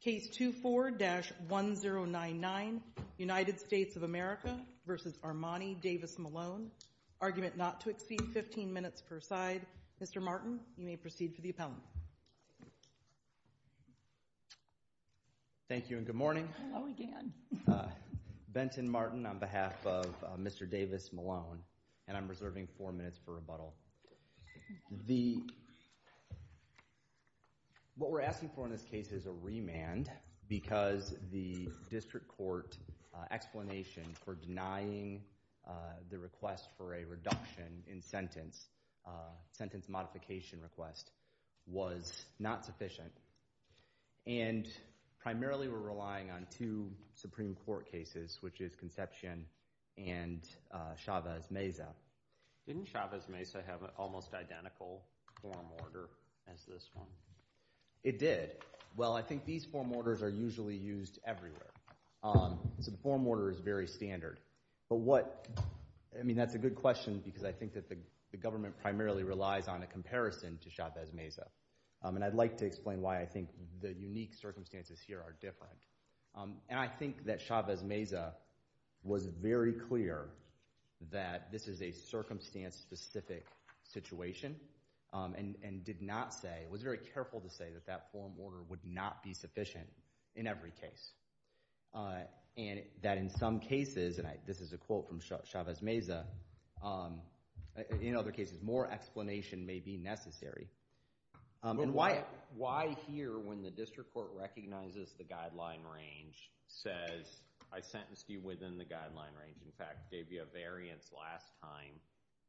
Case 24-1099 United States of America v. Armani DavisMalone Argument not to exceed 15 minutes per side Mr. Martin, you may proceed for the appellant Thank you and good morning Hello again Benton Martin on behalf of Mr. DavisMalone and I'm reserving 4 minutes for rebuttal What we're asking for in this case is a remand because the district court explanation for denying the request for a reduction in sentence sentence modification request was not sufficient and primarily we're relying on two Supreme Court cases which is Conception and Chavez-Mesa Didn't Chavez-Mesa have an almost identical form order as this one? It did Well, I think these form orders are usually used everywhere So the form order is very standard But what, I mean that's a good question because I think that the government primarily relies on a comparison to Chavez-Mesa and I'd like to explain why I think the unique circumstances here are different and I think that Chavez-Mesa was very clear that this is a circumstance specific situation and did not say, was very careful to say that that form order would not be sufficient in every case and that in some cases, and this is a quote from Chavez-Mesa in other cases more explanation may be necessary Why here when the district court recognizes the guideline range says I sentenced you within the guideline range in fact gave you a variance last time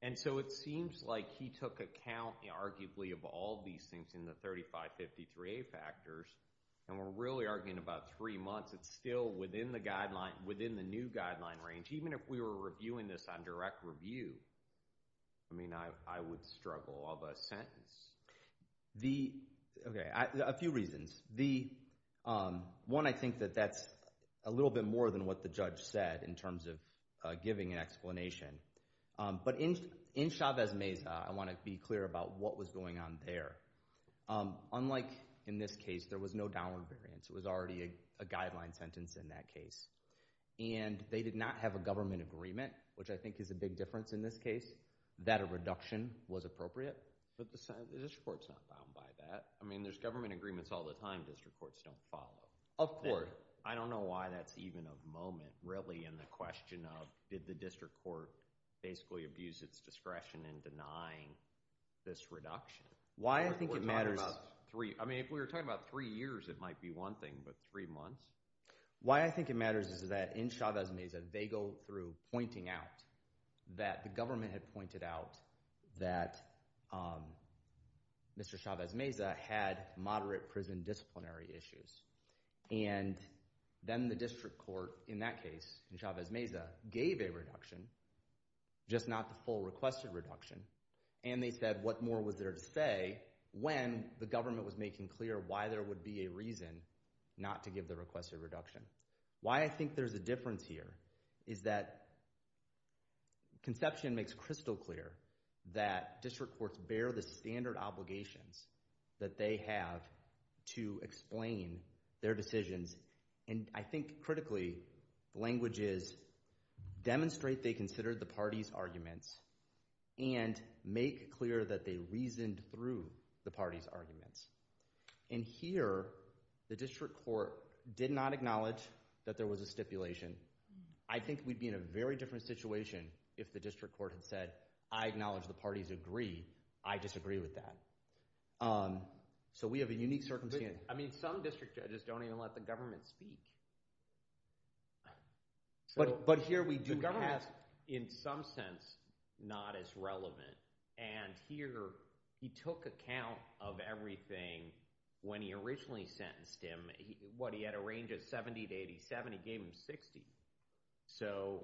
and so it seems like he took account arguably of all these things in the 3553A factors and we're really arguing about three months it's still within the guideline, within the new guideline range even if we were reviewing this on direct review I mean I would struggle of a sentence A few reasons One, I think that that's a little bit more than what the judge said in terms of giving an explanation But in Chavez-Mesa, I want to be clear about what was going on there Unlike in this case, there was no downward variance It was already a guideline sentence in that case and they did not have a government agreement which I think is a big difference in this case that a reduction was appropriate But the district court's not bound by that I mean there's government agreements all the time district courts don't follow Of course I don't know why that's even a moment really in the question of did the district court basically abuse its discretion in denying this reduction Why I think it matters I mean if we were talking about three years it might be one thing but three months Why I think it matters is that in Chavez-Mesa they go through pointing out that the government had pointed out that Mr. Chavez-Mesa had moderate prison disciplinary issues and then the district court in that case, in Chavez-Mesa gave a reduction, just not the full requested reduction and they said what more was there to say when the government was making clear why there would be a reason not to give the requested reduction Why I think there's a difference here is that conception makes crystal clear that district courts bear the standard obligations that they have to explain their decisions and I think critically the language is demonstrate they considered the party's arguments and make clear that they reasoned through the party's arguments and here the district court did not acknowledge that there was a stipulation I think we'd be in a very different situation if the district court had said I acknowledge the parties agree, I disagree with that So we have a unique circumstance I mean some district judges don't even let the government speak But here we do have The government is in some sense not as relevant and here he took account of everything when he originally sentenced him What he had a range of 70 to 87, he gave him 60 So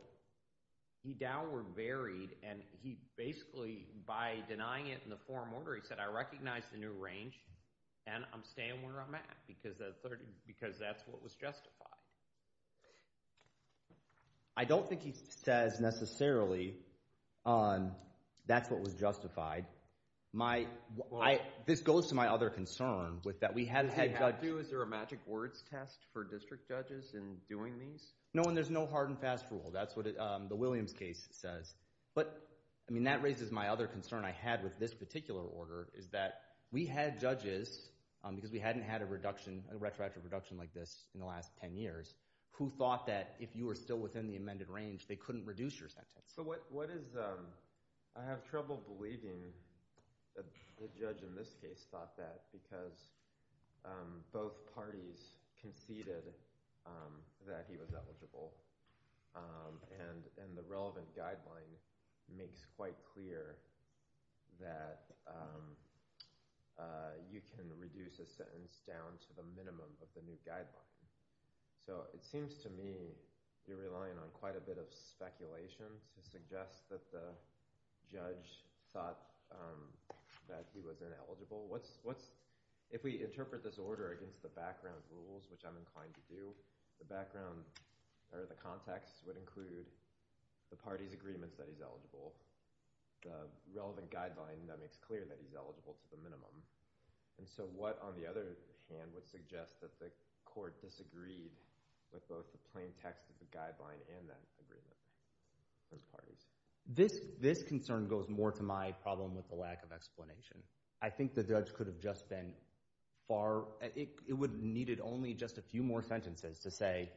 he downward buried and he basically by denying it in the forum order he said I recognize the new range and I'm staying where I'm at because that's what was justified I don't think he says necessarily that's what was justified This goes to my other concern Is there a magic words test for district judges in doing these? No and there's no hard and fast rule That's what the Williams case says But that raises my other concern I had with this particular order is that we had judges because we hadn't had a retroactive reduction like this in the last 10 years who thought that if you were still within the amended range they couldn't reduce your sentence I have trouble believing the judge in this case thought that because both parties conceded that he was eligible and the relevant guideline makes quite clear that you can reduce a sentence down to the minimum of the new guideline So it seems to me you're relying on quite a bit of speculation to suggest that the judge thought that he was ineligible If we interpret this order against the background rules which I'm inclined to do the background or the context would include the parties agreements that he's eligible the relevant guideline that makes clear that he's eligible to the minimum And so what on the other hand would suggest that the court disagreed with both the plain text of the guideline and that agreement? Those parties This concern goes more to my problem with the lack of explanation I think the judge could have just been far It would have needed only just a few more sentences to say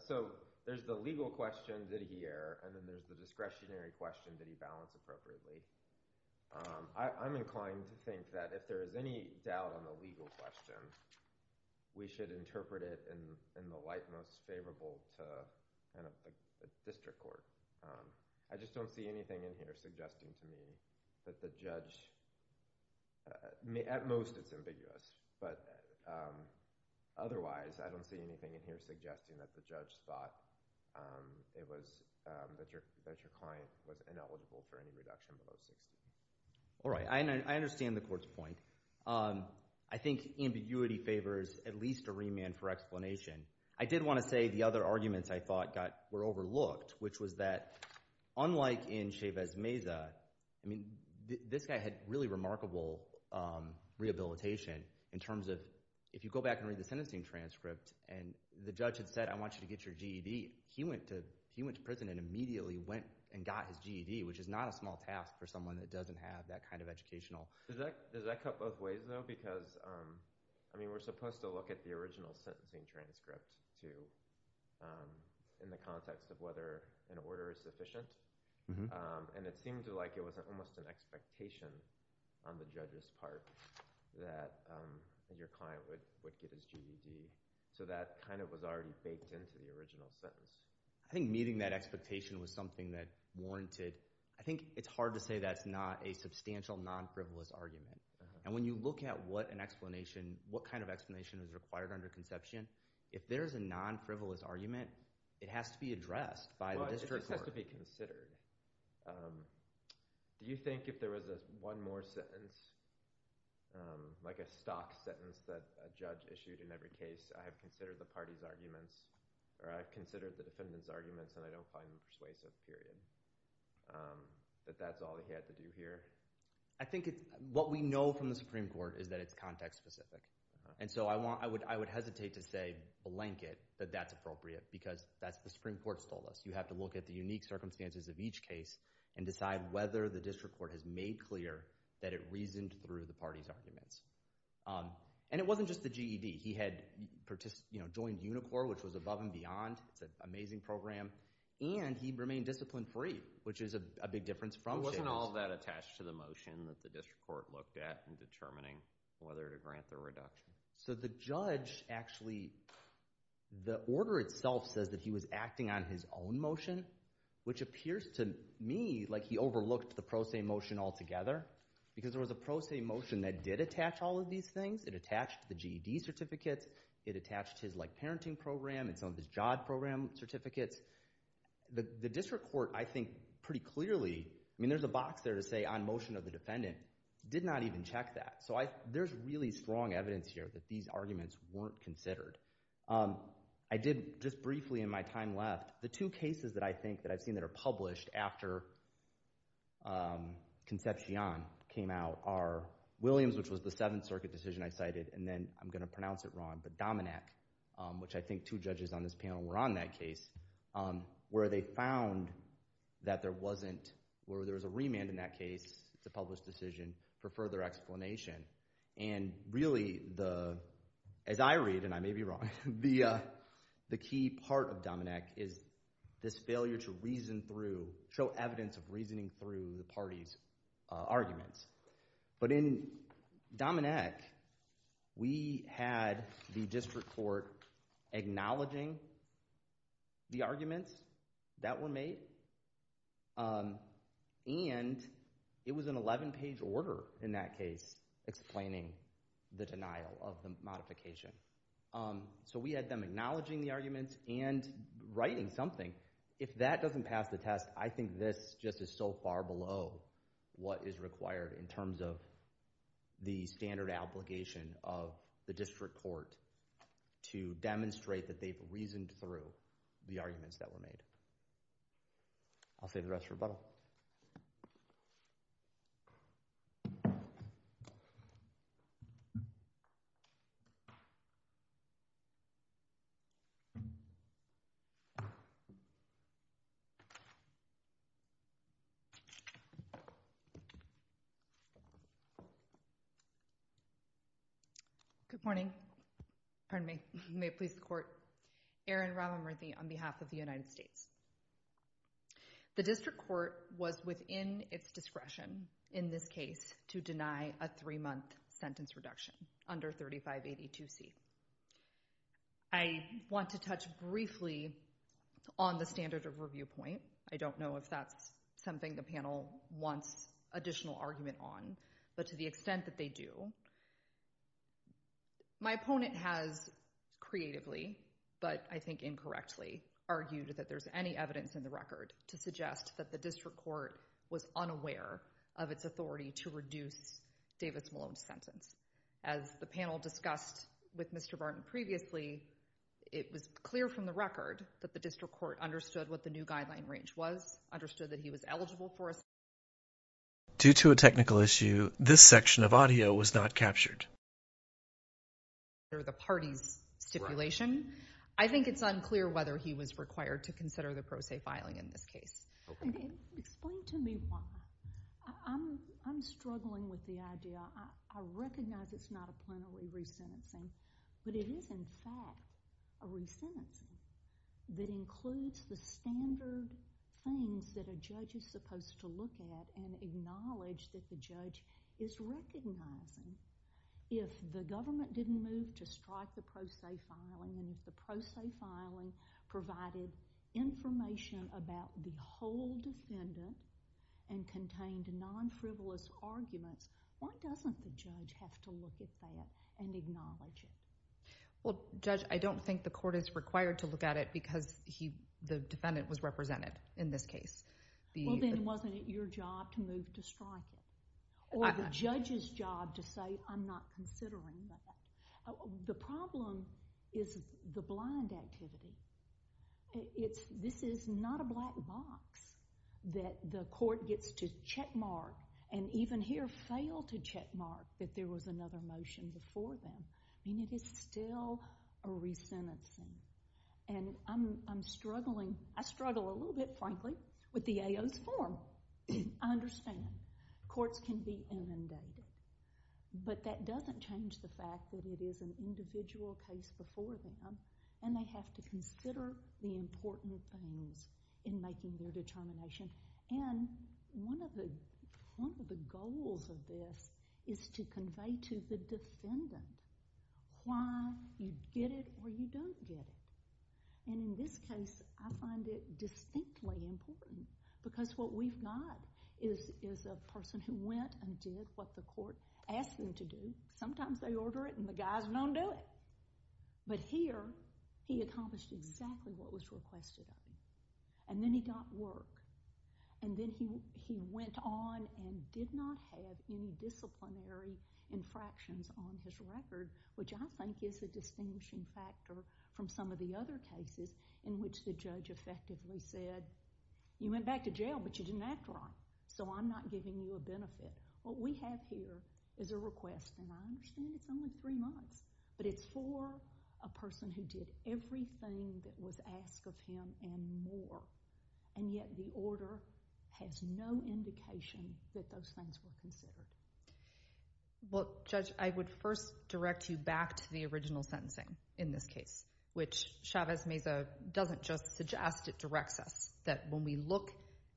So there's the legal question, did he err? And then there's the discretionary question, did he balance appropriately? I'm inclined to think that if there is any doubt on the legal question we should interpret it in the light most favorable to a district court I just don't see anything in here suggesting to me that the judge At most it's ambiguous But otherwise I don't see anything in here suggesting that the judge thought that your client was ineligible for any reduction below 60 All right, I understand the court's point I think ambiguity favors at least a remand for explanation I did want to say the other arguments I thought were overlooked which was that unlike in Chavez Meza I mean this guy had really remarkable rehabilitation in terms of if you go back and read the sentencing transcript and the judge had said I want you to get your GED He went to prison and immediately went and got his GED which is not a small task for someone that doesn't have that kind of educational Does that cut both ways though? Because I mean we're supposed to look at the original sentencing transcript too in the context of whether an order is sufficient And it seemed like it was almost an expectation on the judge's part that your client would get his GED So that kind of was already baked into the original sentence I think meeting that expectation was something that warranted I think it's hard to say that's not a substantial non-frivolous argument And when you look at what kind of explanation is required under conception if there's a non-frivolous argument it has to be addressed by the district court It has to be considered Do you think if there was one more sentence like a stock sentence that a judge issued in every case I have considered the party's arguments or I have considered the defendant's arguments and I don't find them persuasive period that that's all he had to do here? I think what we know from the Supreme Court is that it's context specific And so I would hesitate to say blanket that that's appropriate because that's what the Supreme Court has told us You have to look at the unique circumstances of each case and decide whether the district court has made clear that it reasoned through the party's arguments And it wasn't just the GED He had joined UNICOR which was above and beyond It's an amazing program And he remained discipline free which is a big difference from CHAMES Wasn't all that attached to the motion that the district court looked at in determining whether to grant the reduction? So the judge actually The order itself says that he was acting on his own motion which appears to me like he overlooked the pro se motion altogether because there was a pro se motion that did attach all of these things It attached the GED certificates It attached his parenting program It's on this JOD program certificates The district court I think pretty clearly I mean there's a box there to say on motion of the defendant did not even check that So there's really strong evidence here that these arguments weren't considered I did just briefly in my time left The two cases that I think that I've seen that are published after Concepcion came out are Williams which was the 7th Circuit decision I cited and then I'm going to pronounce it wrong but Dominack which I think two judges on this panel were on that case where they found that there wasn't where there was a remand in that case It's a published decision for further explanation and really as I read and I may be wrong the key part of Dominack is this failure to reason through show evidence of reasoning through the parties arguments but in Dominack we had the district court acknowledging the arguments that were made and it was an 11 page order in that case explaining the denial of the modification So we had them acknowledging the arguments and writing something If that doesn't pass the test I think this just is so far below what is required in terms of the standard obligation of the district court to demonstrate that they've reasoned through the arguments that were made I'll save the rest for rebuttal Good morning Pardon me May it please the court Erin Rava-Murthy on behalf of the United States The district court was within its discretion in this case to deny a three month sentence reduction under 3582C I want to touch briefly on the standard of review point I don't know if that's something the panel wants additional argument on but to the extent that they do my opponent has creatively but I think incorrectly argued that there's any evidence in the record to suggest that the district court was unaware of its authority to reduce Davis Malone's sentence As the panel discussed with Mr. Barton previously it was clear from the record that the district court understood what the new guideline range was understood that he was eligible for a Due to a technical issue this section of audio was not captured under the party's stipulation I think it's unclear whether he was required to consider the pro se filing in this case Explain to me why I'm struggling with the idea I recognize it's not a plenary resentencing but it is in fact a resentencing that includes the standard things that a judge is supposed to look at and acknowledge that the judge is recognizing if the government didn't move to strike the pro se filing and if the pro se filing provided information about the whole defendant and contained non-frivolous arguments why doesn't the judge have to look at that and acknowledge it? Well judge I don't think the court is required to look at it because the defendant was represented in this case Well then wasn't it your job to move to strike it? Or the judge's job to say I'm not considering that The problem is the blind activity This is not a black box that the court gets to check mark and even here failed to check mark that there was another motion before them I mean it is still a resentencing and I'm struggling I struggle a little bit frankly with the AO's form I understand Courts can be inundated but that doesn't change the fact that it is an individual case before them and they have to consider the important things in making their determination and one of the goals of this is to convey to the defendant why you get it or you don't get it and in this case I find it distinctly important because what we've got is a person who went and did what the court asked them to do sometimes they order it and the guys don't do it but here he accomplished exactly what was requested of him and then he got work and then he went on and did not have any disciplinary infractions on his record which I think is a distinguishing factor from some of the other cases in which the judge effectively said you went back to jail but you didn't act wrong so I'm not giving you a benefit what we have here is a request and I understand it's only three months but it's for a person who did everything that was asked of him and more and yet the order has no indication that those things were considered Well Judge I would first direct you back to the original sentencing in this case which Chavez Meza doesn't just suggest it directs us that when we look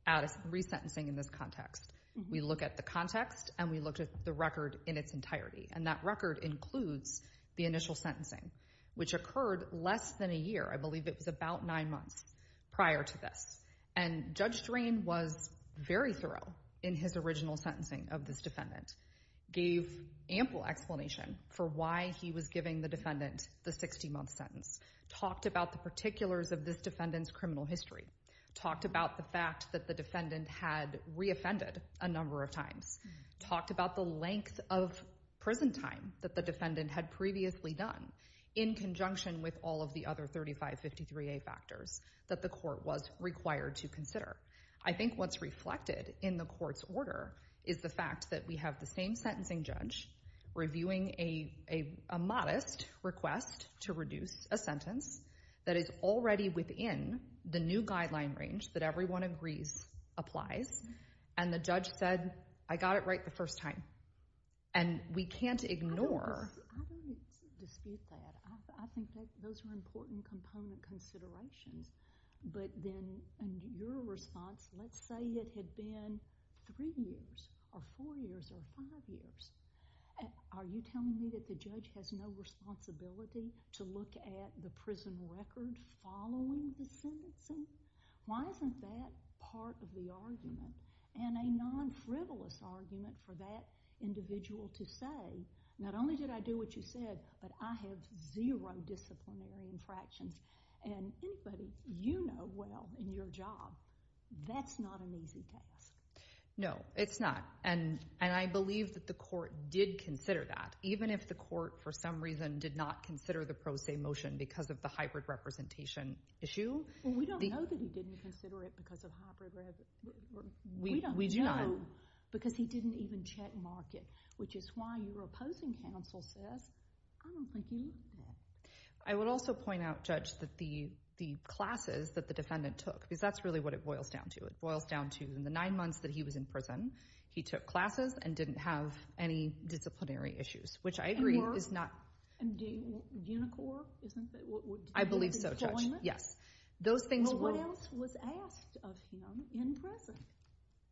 at a resentencing in this context we look at the context and we look at the record in its entirety and that record includes the initial sentencing which occurred less than a year I believe it was about nine months prior to this and Judge Drain was very thorough in his original sentencing of this defendant gave ample explanation for why he was giving the defendant the 60 month sentence talked about the particulars of this defendant's criminal history talked about the fact that the defendant had re-offended a number of times talked about the length of prison time that the defendant had previously done in conjunction with all of the other 3553A factors that the court was required to consider I think what's reflected in the court's order is the fact that we have the same sentencing judge reviewing a modest request to reduce a sentence that is already within the new guideline range that everyone agrees applies and the judge said I got it right the first time and we can't ignore I don't dispute that I think those are important component considerations but then in your response let's say it had been three years or four years or five years are you telling me that the judge has no responsibility to look at the prison record following the sentencing? Why isn't that part of the argument? And a non-frivolous argument for that individual to say not only did I do what you said but I have zero disciplinary infractions and anybody you know well in your job that's not an easy task No, it's not and I believe that the court did consider that even if the court for some reason did not consider the pro se motion because of the hybrid representation issue We don't know that he didn't consider it because of hybrid we don't know because he didn't even check mark it which is why your opposing counsel says I don't think you looked at it I would also point out Judge that the classes that the defendant took because that's really what it boils down to it boils down to in the nine months that he was in prison he took classes and didn't have any disciplinary issues which I agree is not Unicorn? I believe so Judge Yes Well what else was asked of him in prison?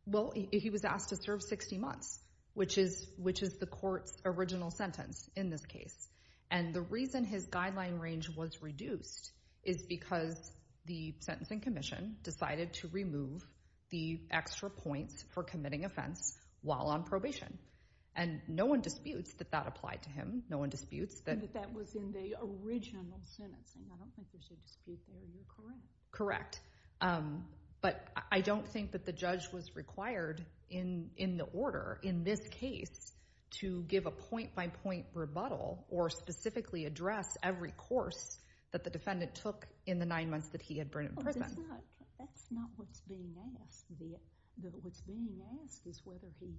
Well he was asked to serve 60 months which is the court's original sentence in this case and the reason his guideline range was reduced is because the sentencing commission decided to remove the extra points for committing offense while on probation and no one disputes that that applied to him no one disputes That was in the original sentencing I don't think there's a dispute there you're correct Correct but I don't think that the judge was required in the order in this case to give a point by point rebuttal or specifically address every course that the defendant took in the nine months that he had been in prison That's not what's being asked what's being asked is whether he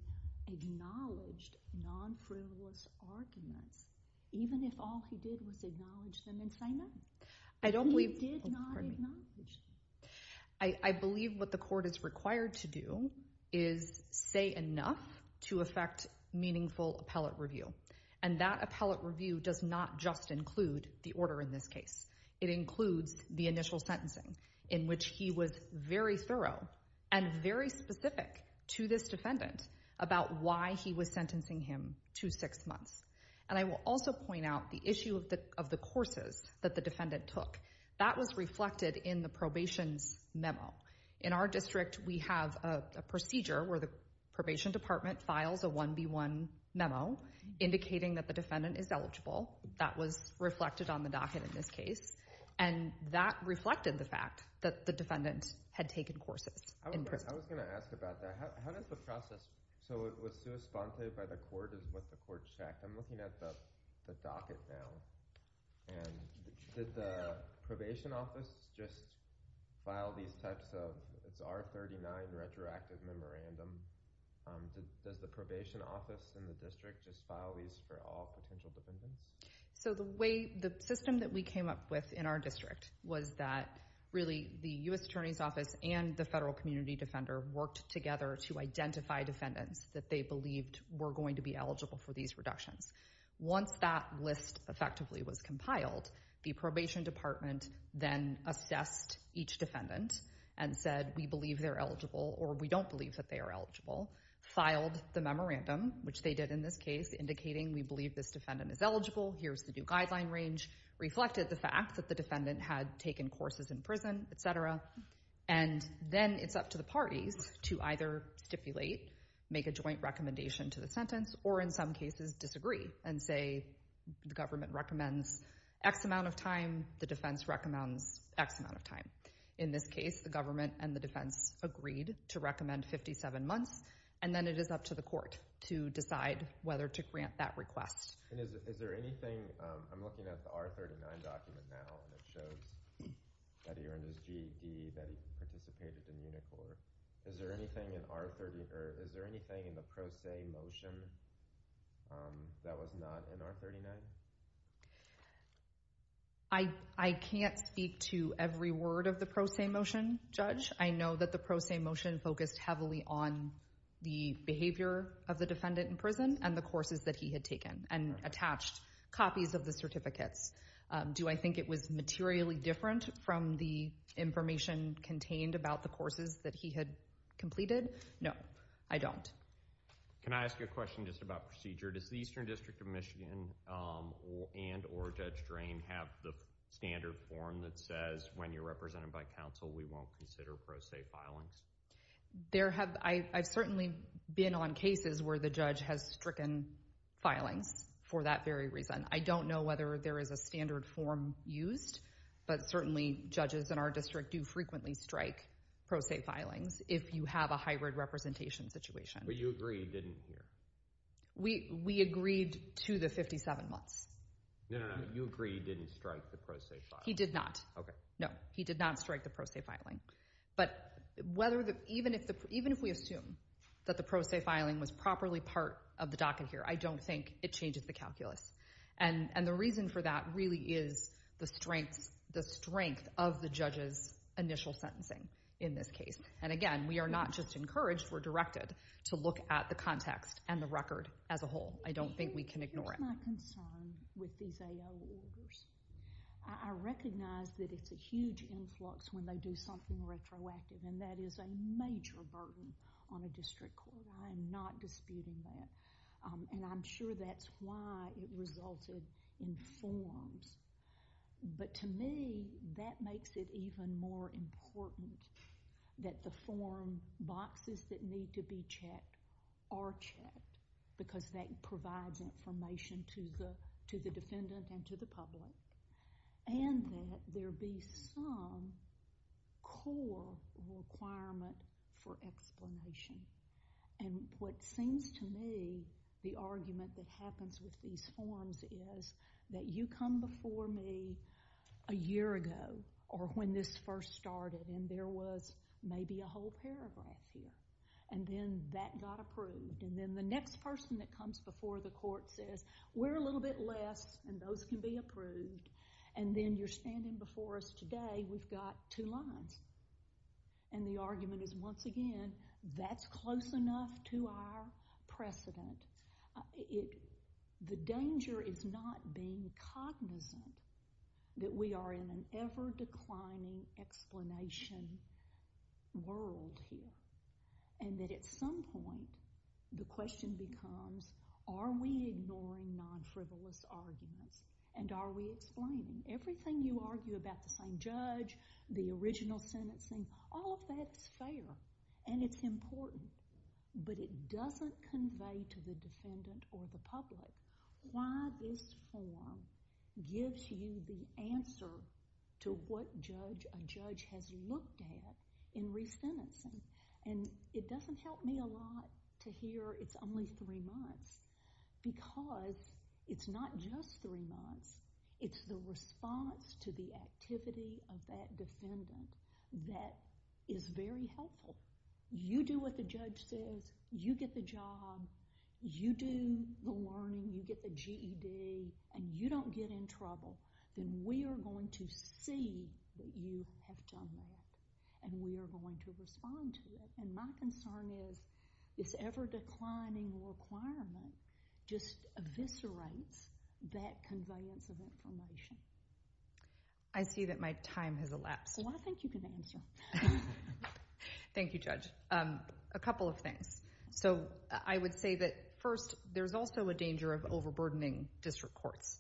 acknowledged non-frivolous arguments even if all he did was acknowledge them and say no I don't believe he did not acknowledge them I believe what the court is required to do is say enough to affect meaningful appellate review and that appellate review does not just include the order in this case it includes the initial sentencing in which he was very thorough and very specific to this defendant about why he was sentencing him to six months and I will also point out the issue of the courses that the defendant took that was reflected in the probation memo in our district we have a procedure where the probation department files a 1B1 memo indicating that the defendant is eligible that was reflected on the docket in this case and that reflected the fact that the defendant had taken courses in prison I was going to ask about that how does the process work with the I'm looking at the docket now did the office just file these types of R39 retroactive memorandum does the probation office in the just file these for all potential defendants so the system we came up with in our district was that really the U.S. attorney's and the federal community defender worked together to identify defendants they believed were going to be eligible for these reductions once that list was compiled the probation department assessed each defendant and said we believe they are eligible or we don't believe they are eligible filed the memorandum indicating we believe this defendant is eligible reflected the fact the defendant had taken courses in prison et cetera and then it's up to the parties to either stipulate make a joint recommendation to the or in some cases disagree and say the recommends X amount of time the defense recommends X amount of time in this case the and the defense agreed to recommend 57 months and then it is up to the court to decide whether to grant that request is there anything I'm looking at not in R39? I can't speak to every word of the judge I know the motion focused heavily on the behavior of the defendant in prison and the courses he had taken and attached copies of the certificates do I think it was materially different from the information contained about the courses he completed? No. I don't. Can I ask a question about procedure does the district of have the standard form that says when you're by we won't consider pro se filing? I've certainly been on cases where the judge has stricken filings for that very reason I don't know whether there is a standard form used but certainly judges in our district do frequently strike pro se filings if you have a hybrid representation situation. But you don't Even if we assume that the pro se filing was properly part of the docket here I don't think it changes the The reason for that really is the strength of the judge's initial sentencing in this case. Again we are not just encouraged to look at the context and the record as a whole. I don't think we can ignore it. Here is my concern with these AO orders. I recognize it is a huge influx when they do something retroactive and that is a major burden on a district court. I am not disputing that and I am sure that is why it resulted in forms. But to me that makes it even more important that the form boxes that need to be checked are checked because that provides information to the defendant and to the And that there be some core requirement for explanation. And what seems to me the argument that happens with these forms is that you come before me a year ago or when this first started and there was maybe a whole paragraph here and then that got approved and then the next person that comes before the court says we are a little bit less and those can be approved and then you are standing before us today we have got two lines. And the argument is once again that is close enough to our precedent. The danger is not being cognizant that we are in an ever declining explanation world here. And that at some point the question becomes are we ignoring non-frivolous arguments and are we explaining? Everything you argue about the same judge, the original sentencing, all of that is fair and it is important. But it does not convey to the defendant or the public why this form gives you the answer to what a judge has looked at in resentencing. And it does not help me a lot to hear it is only three months because it is not just three months. sensitivity of that defendant that is very helpful. You do what the judge says. You get the job. You do the learning. You get the GED. And you don't get in trouble. Then we are going to see that you have done that. And we are going to respond to it. And my concern is this ever declining requirement just eviscerates that conveyance of information. I see that my time has I think you can answer. Thank you, Judge. A couple of things. I would say that first there is also a danger of over burdening district courts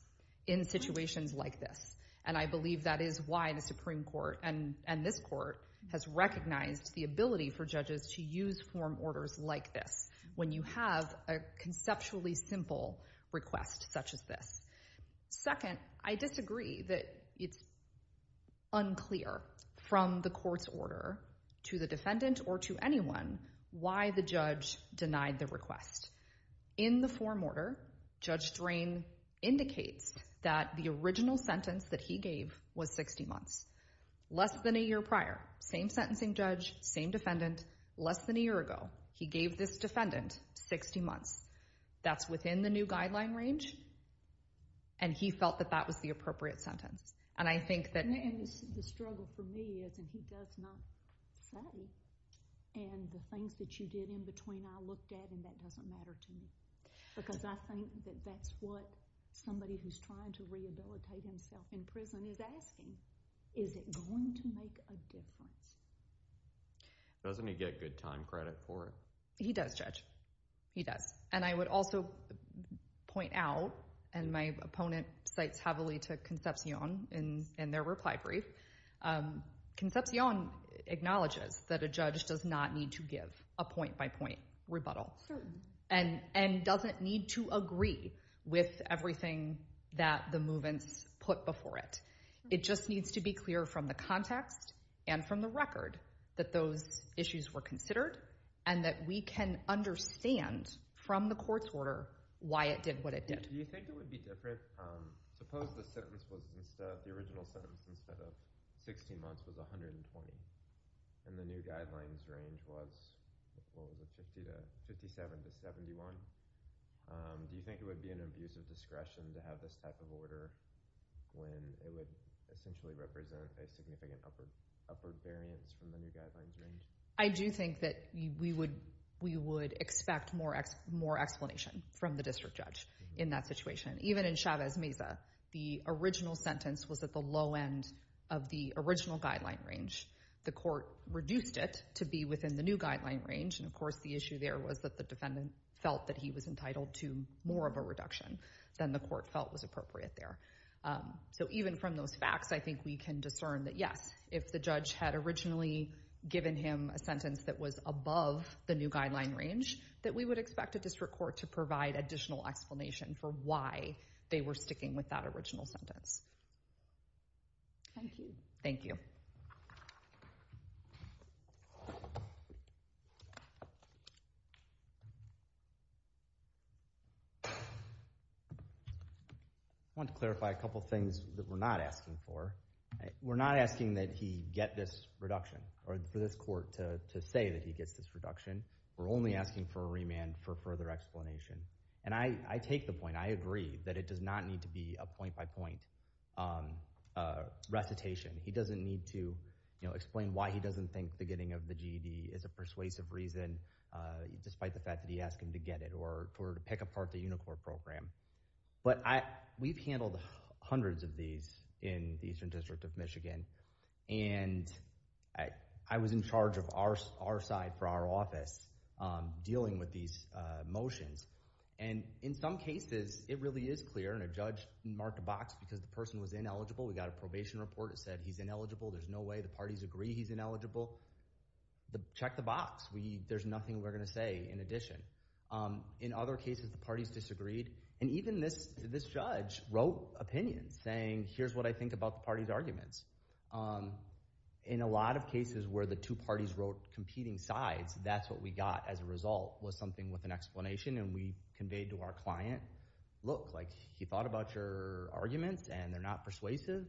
in situations like this. And I believe that is why the Supreme Court and this court has recognized the ability for judges to use form orders like this when you have a conceptually simple request such as this. Second, I disagree that it is unclear from the court's order to the defendant or to anyone why the judge should use form the Supreme Court. I would also point out and my opponent cites heavily to Concepcion in their reply brief. acknowledges that a judge does not need to give a point-by-point rebuttal. And doesn't need to agree with everything that the movements put before it. It just needs to be clear from the context and from the record that those issues were considered and that we can understand from the court's order why it did what it did. Do you think it would be different? Suppose the original sentence instead of 16 months was 120 and the new guidelines range was 57 to 71. Do you think it would be an abusive discretion to have this type of order when it would essentially represent a significant upward variance from the new guidelines range? I do think that we would expect more explanation from the district judge in that situation. Even in Chavez Mesa, the original sentence was at the low end of the original guideline range. The reduced it to be within the new guideline range. Even from those facts, I think we can discern that yes, if the judge had originally given him a sentence that was above the new guideline range, we would expect a district court to provide additional explanation for why they were sticking with that original sentence. Thank you. I want to clarify a couple of things that we're not asking for. We're not asking that he get this reduction or for this court to say that he gets this reduction. We're only asking for a remand for further explanation. I agree that it does not need to be a point-by-point recitation. He doesn't need to explain why he doesn't think the getting of the GED is a persuasive reason. We've handled hundreds of these in the Eastern District of I was in charge of our side for our office dealing with these motions. In some cases, it really is clear and a judge marked a box because the person was ineligible. We got a report that said he's ineligible. There's no way the parties agree he's Check the There's nothing we're going to say in addition. In other cases, the parties disagreed. Even this judge wrote opinions saying here's what I think about the party's In a lot of cases where the two parties wrote competing sides, that's what we got as a result was something with an explanation and we conveyed to our client look, he thought about your arguments and they're not persuasive.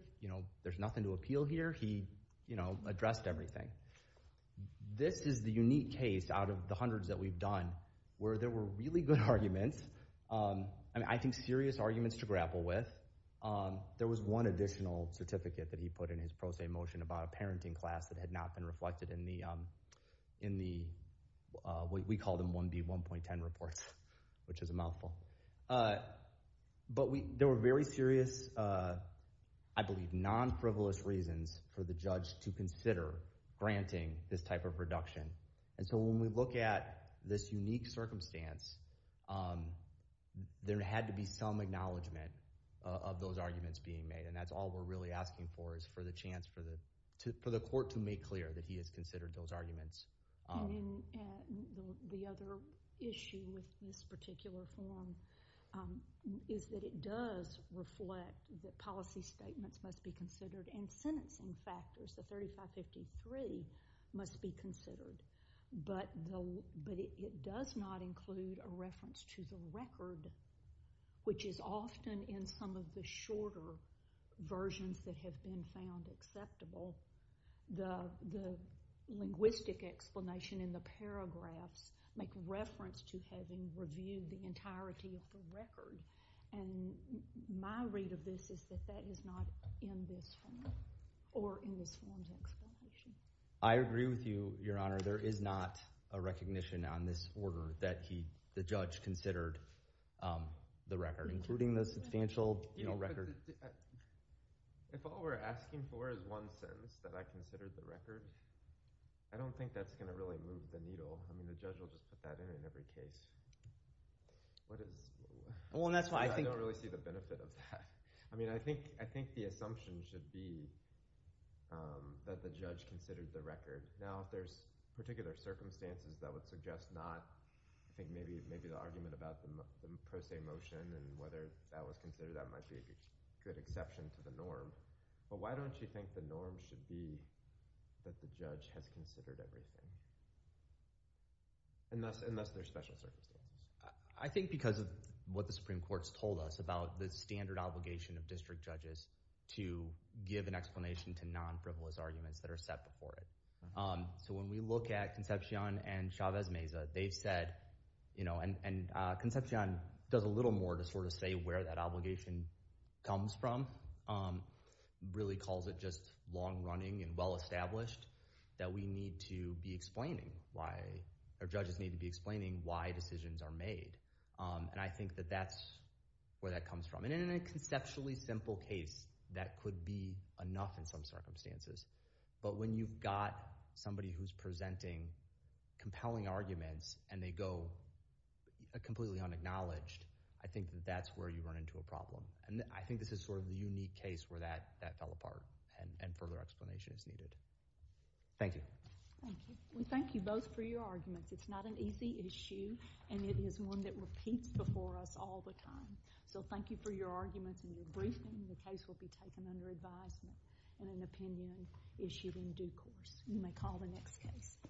There's nothing to appeal here. He addressed everything. This is the unique case out of the hundreds that we've done where there were really good arguments. I think serious arguments to grapple with. There was one additional certificate that he put in his motion about a parenting class that had not been reflected in the we called them 1B 1.10 reports which is a mouthful. But there were very serious I believe non-frivolous reasons for the judge to consider granting this type of reduction. So when we look at this unique circumstance, there had to be some acknowledgement of those arguments being made and that's all we're really asking for is for the court to make clear that he has considered those arguments. And the other issue with this particular form is that it does reflect that policy statements must be considered and sentencing factors, the 3553, must be But it does not include a reference to the record which is often in some of the versions that have been found acceptable. The linguistic aspect of the explanation in the paragraphs make reference to having reviewed the entirety of And my read of this is that that is not in this form or in this form's I agree with you, Your Honor. There is not a recognition on this order that the judge considered the record including the substantial record. If all we're asking for is one sentence that I considered the record, I don't think that's going to really move the I mean, the judge will just put that in in every case. I don't really see the benefit of that. I mean, I think the assumption should be that the considered the record. Now, if there's particular circumstances that would suggest not I think maybe the argument about the pro se motion and whether that was considered that might be a good exception to the norm, but why don't you think the norm should be that the judge has considered everything unless there's special circumstances? I think because of what the Supreme Court has told us about the standard obligation of district judges to give an explanation to non-frivolous arguments that are set before it. So when we look at Concepcion and Chavez Meza, they've said and Concepcion does a little more to say where that obligation comes from, really calls it just long running and well established that we need to be explaining why or judges need to be explaining why decisions are made. And I think that's where that comes from. In a conceptually simple case that could be enough in some circumstances, but when you've got somebody who's compelling arguments and they go completely unacknowledged, I think that's where you run into a difficult And it is one that repeats before us all the time. So thank you for your arguments and your briefing. The case will be taken under advisement and an opinion issued in due course. You may call the next case.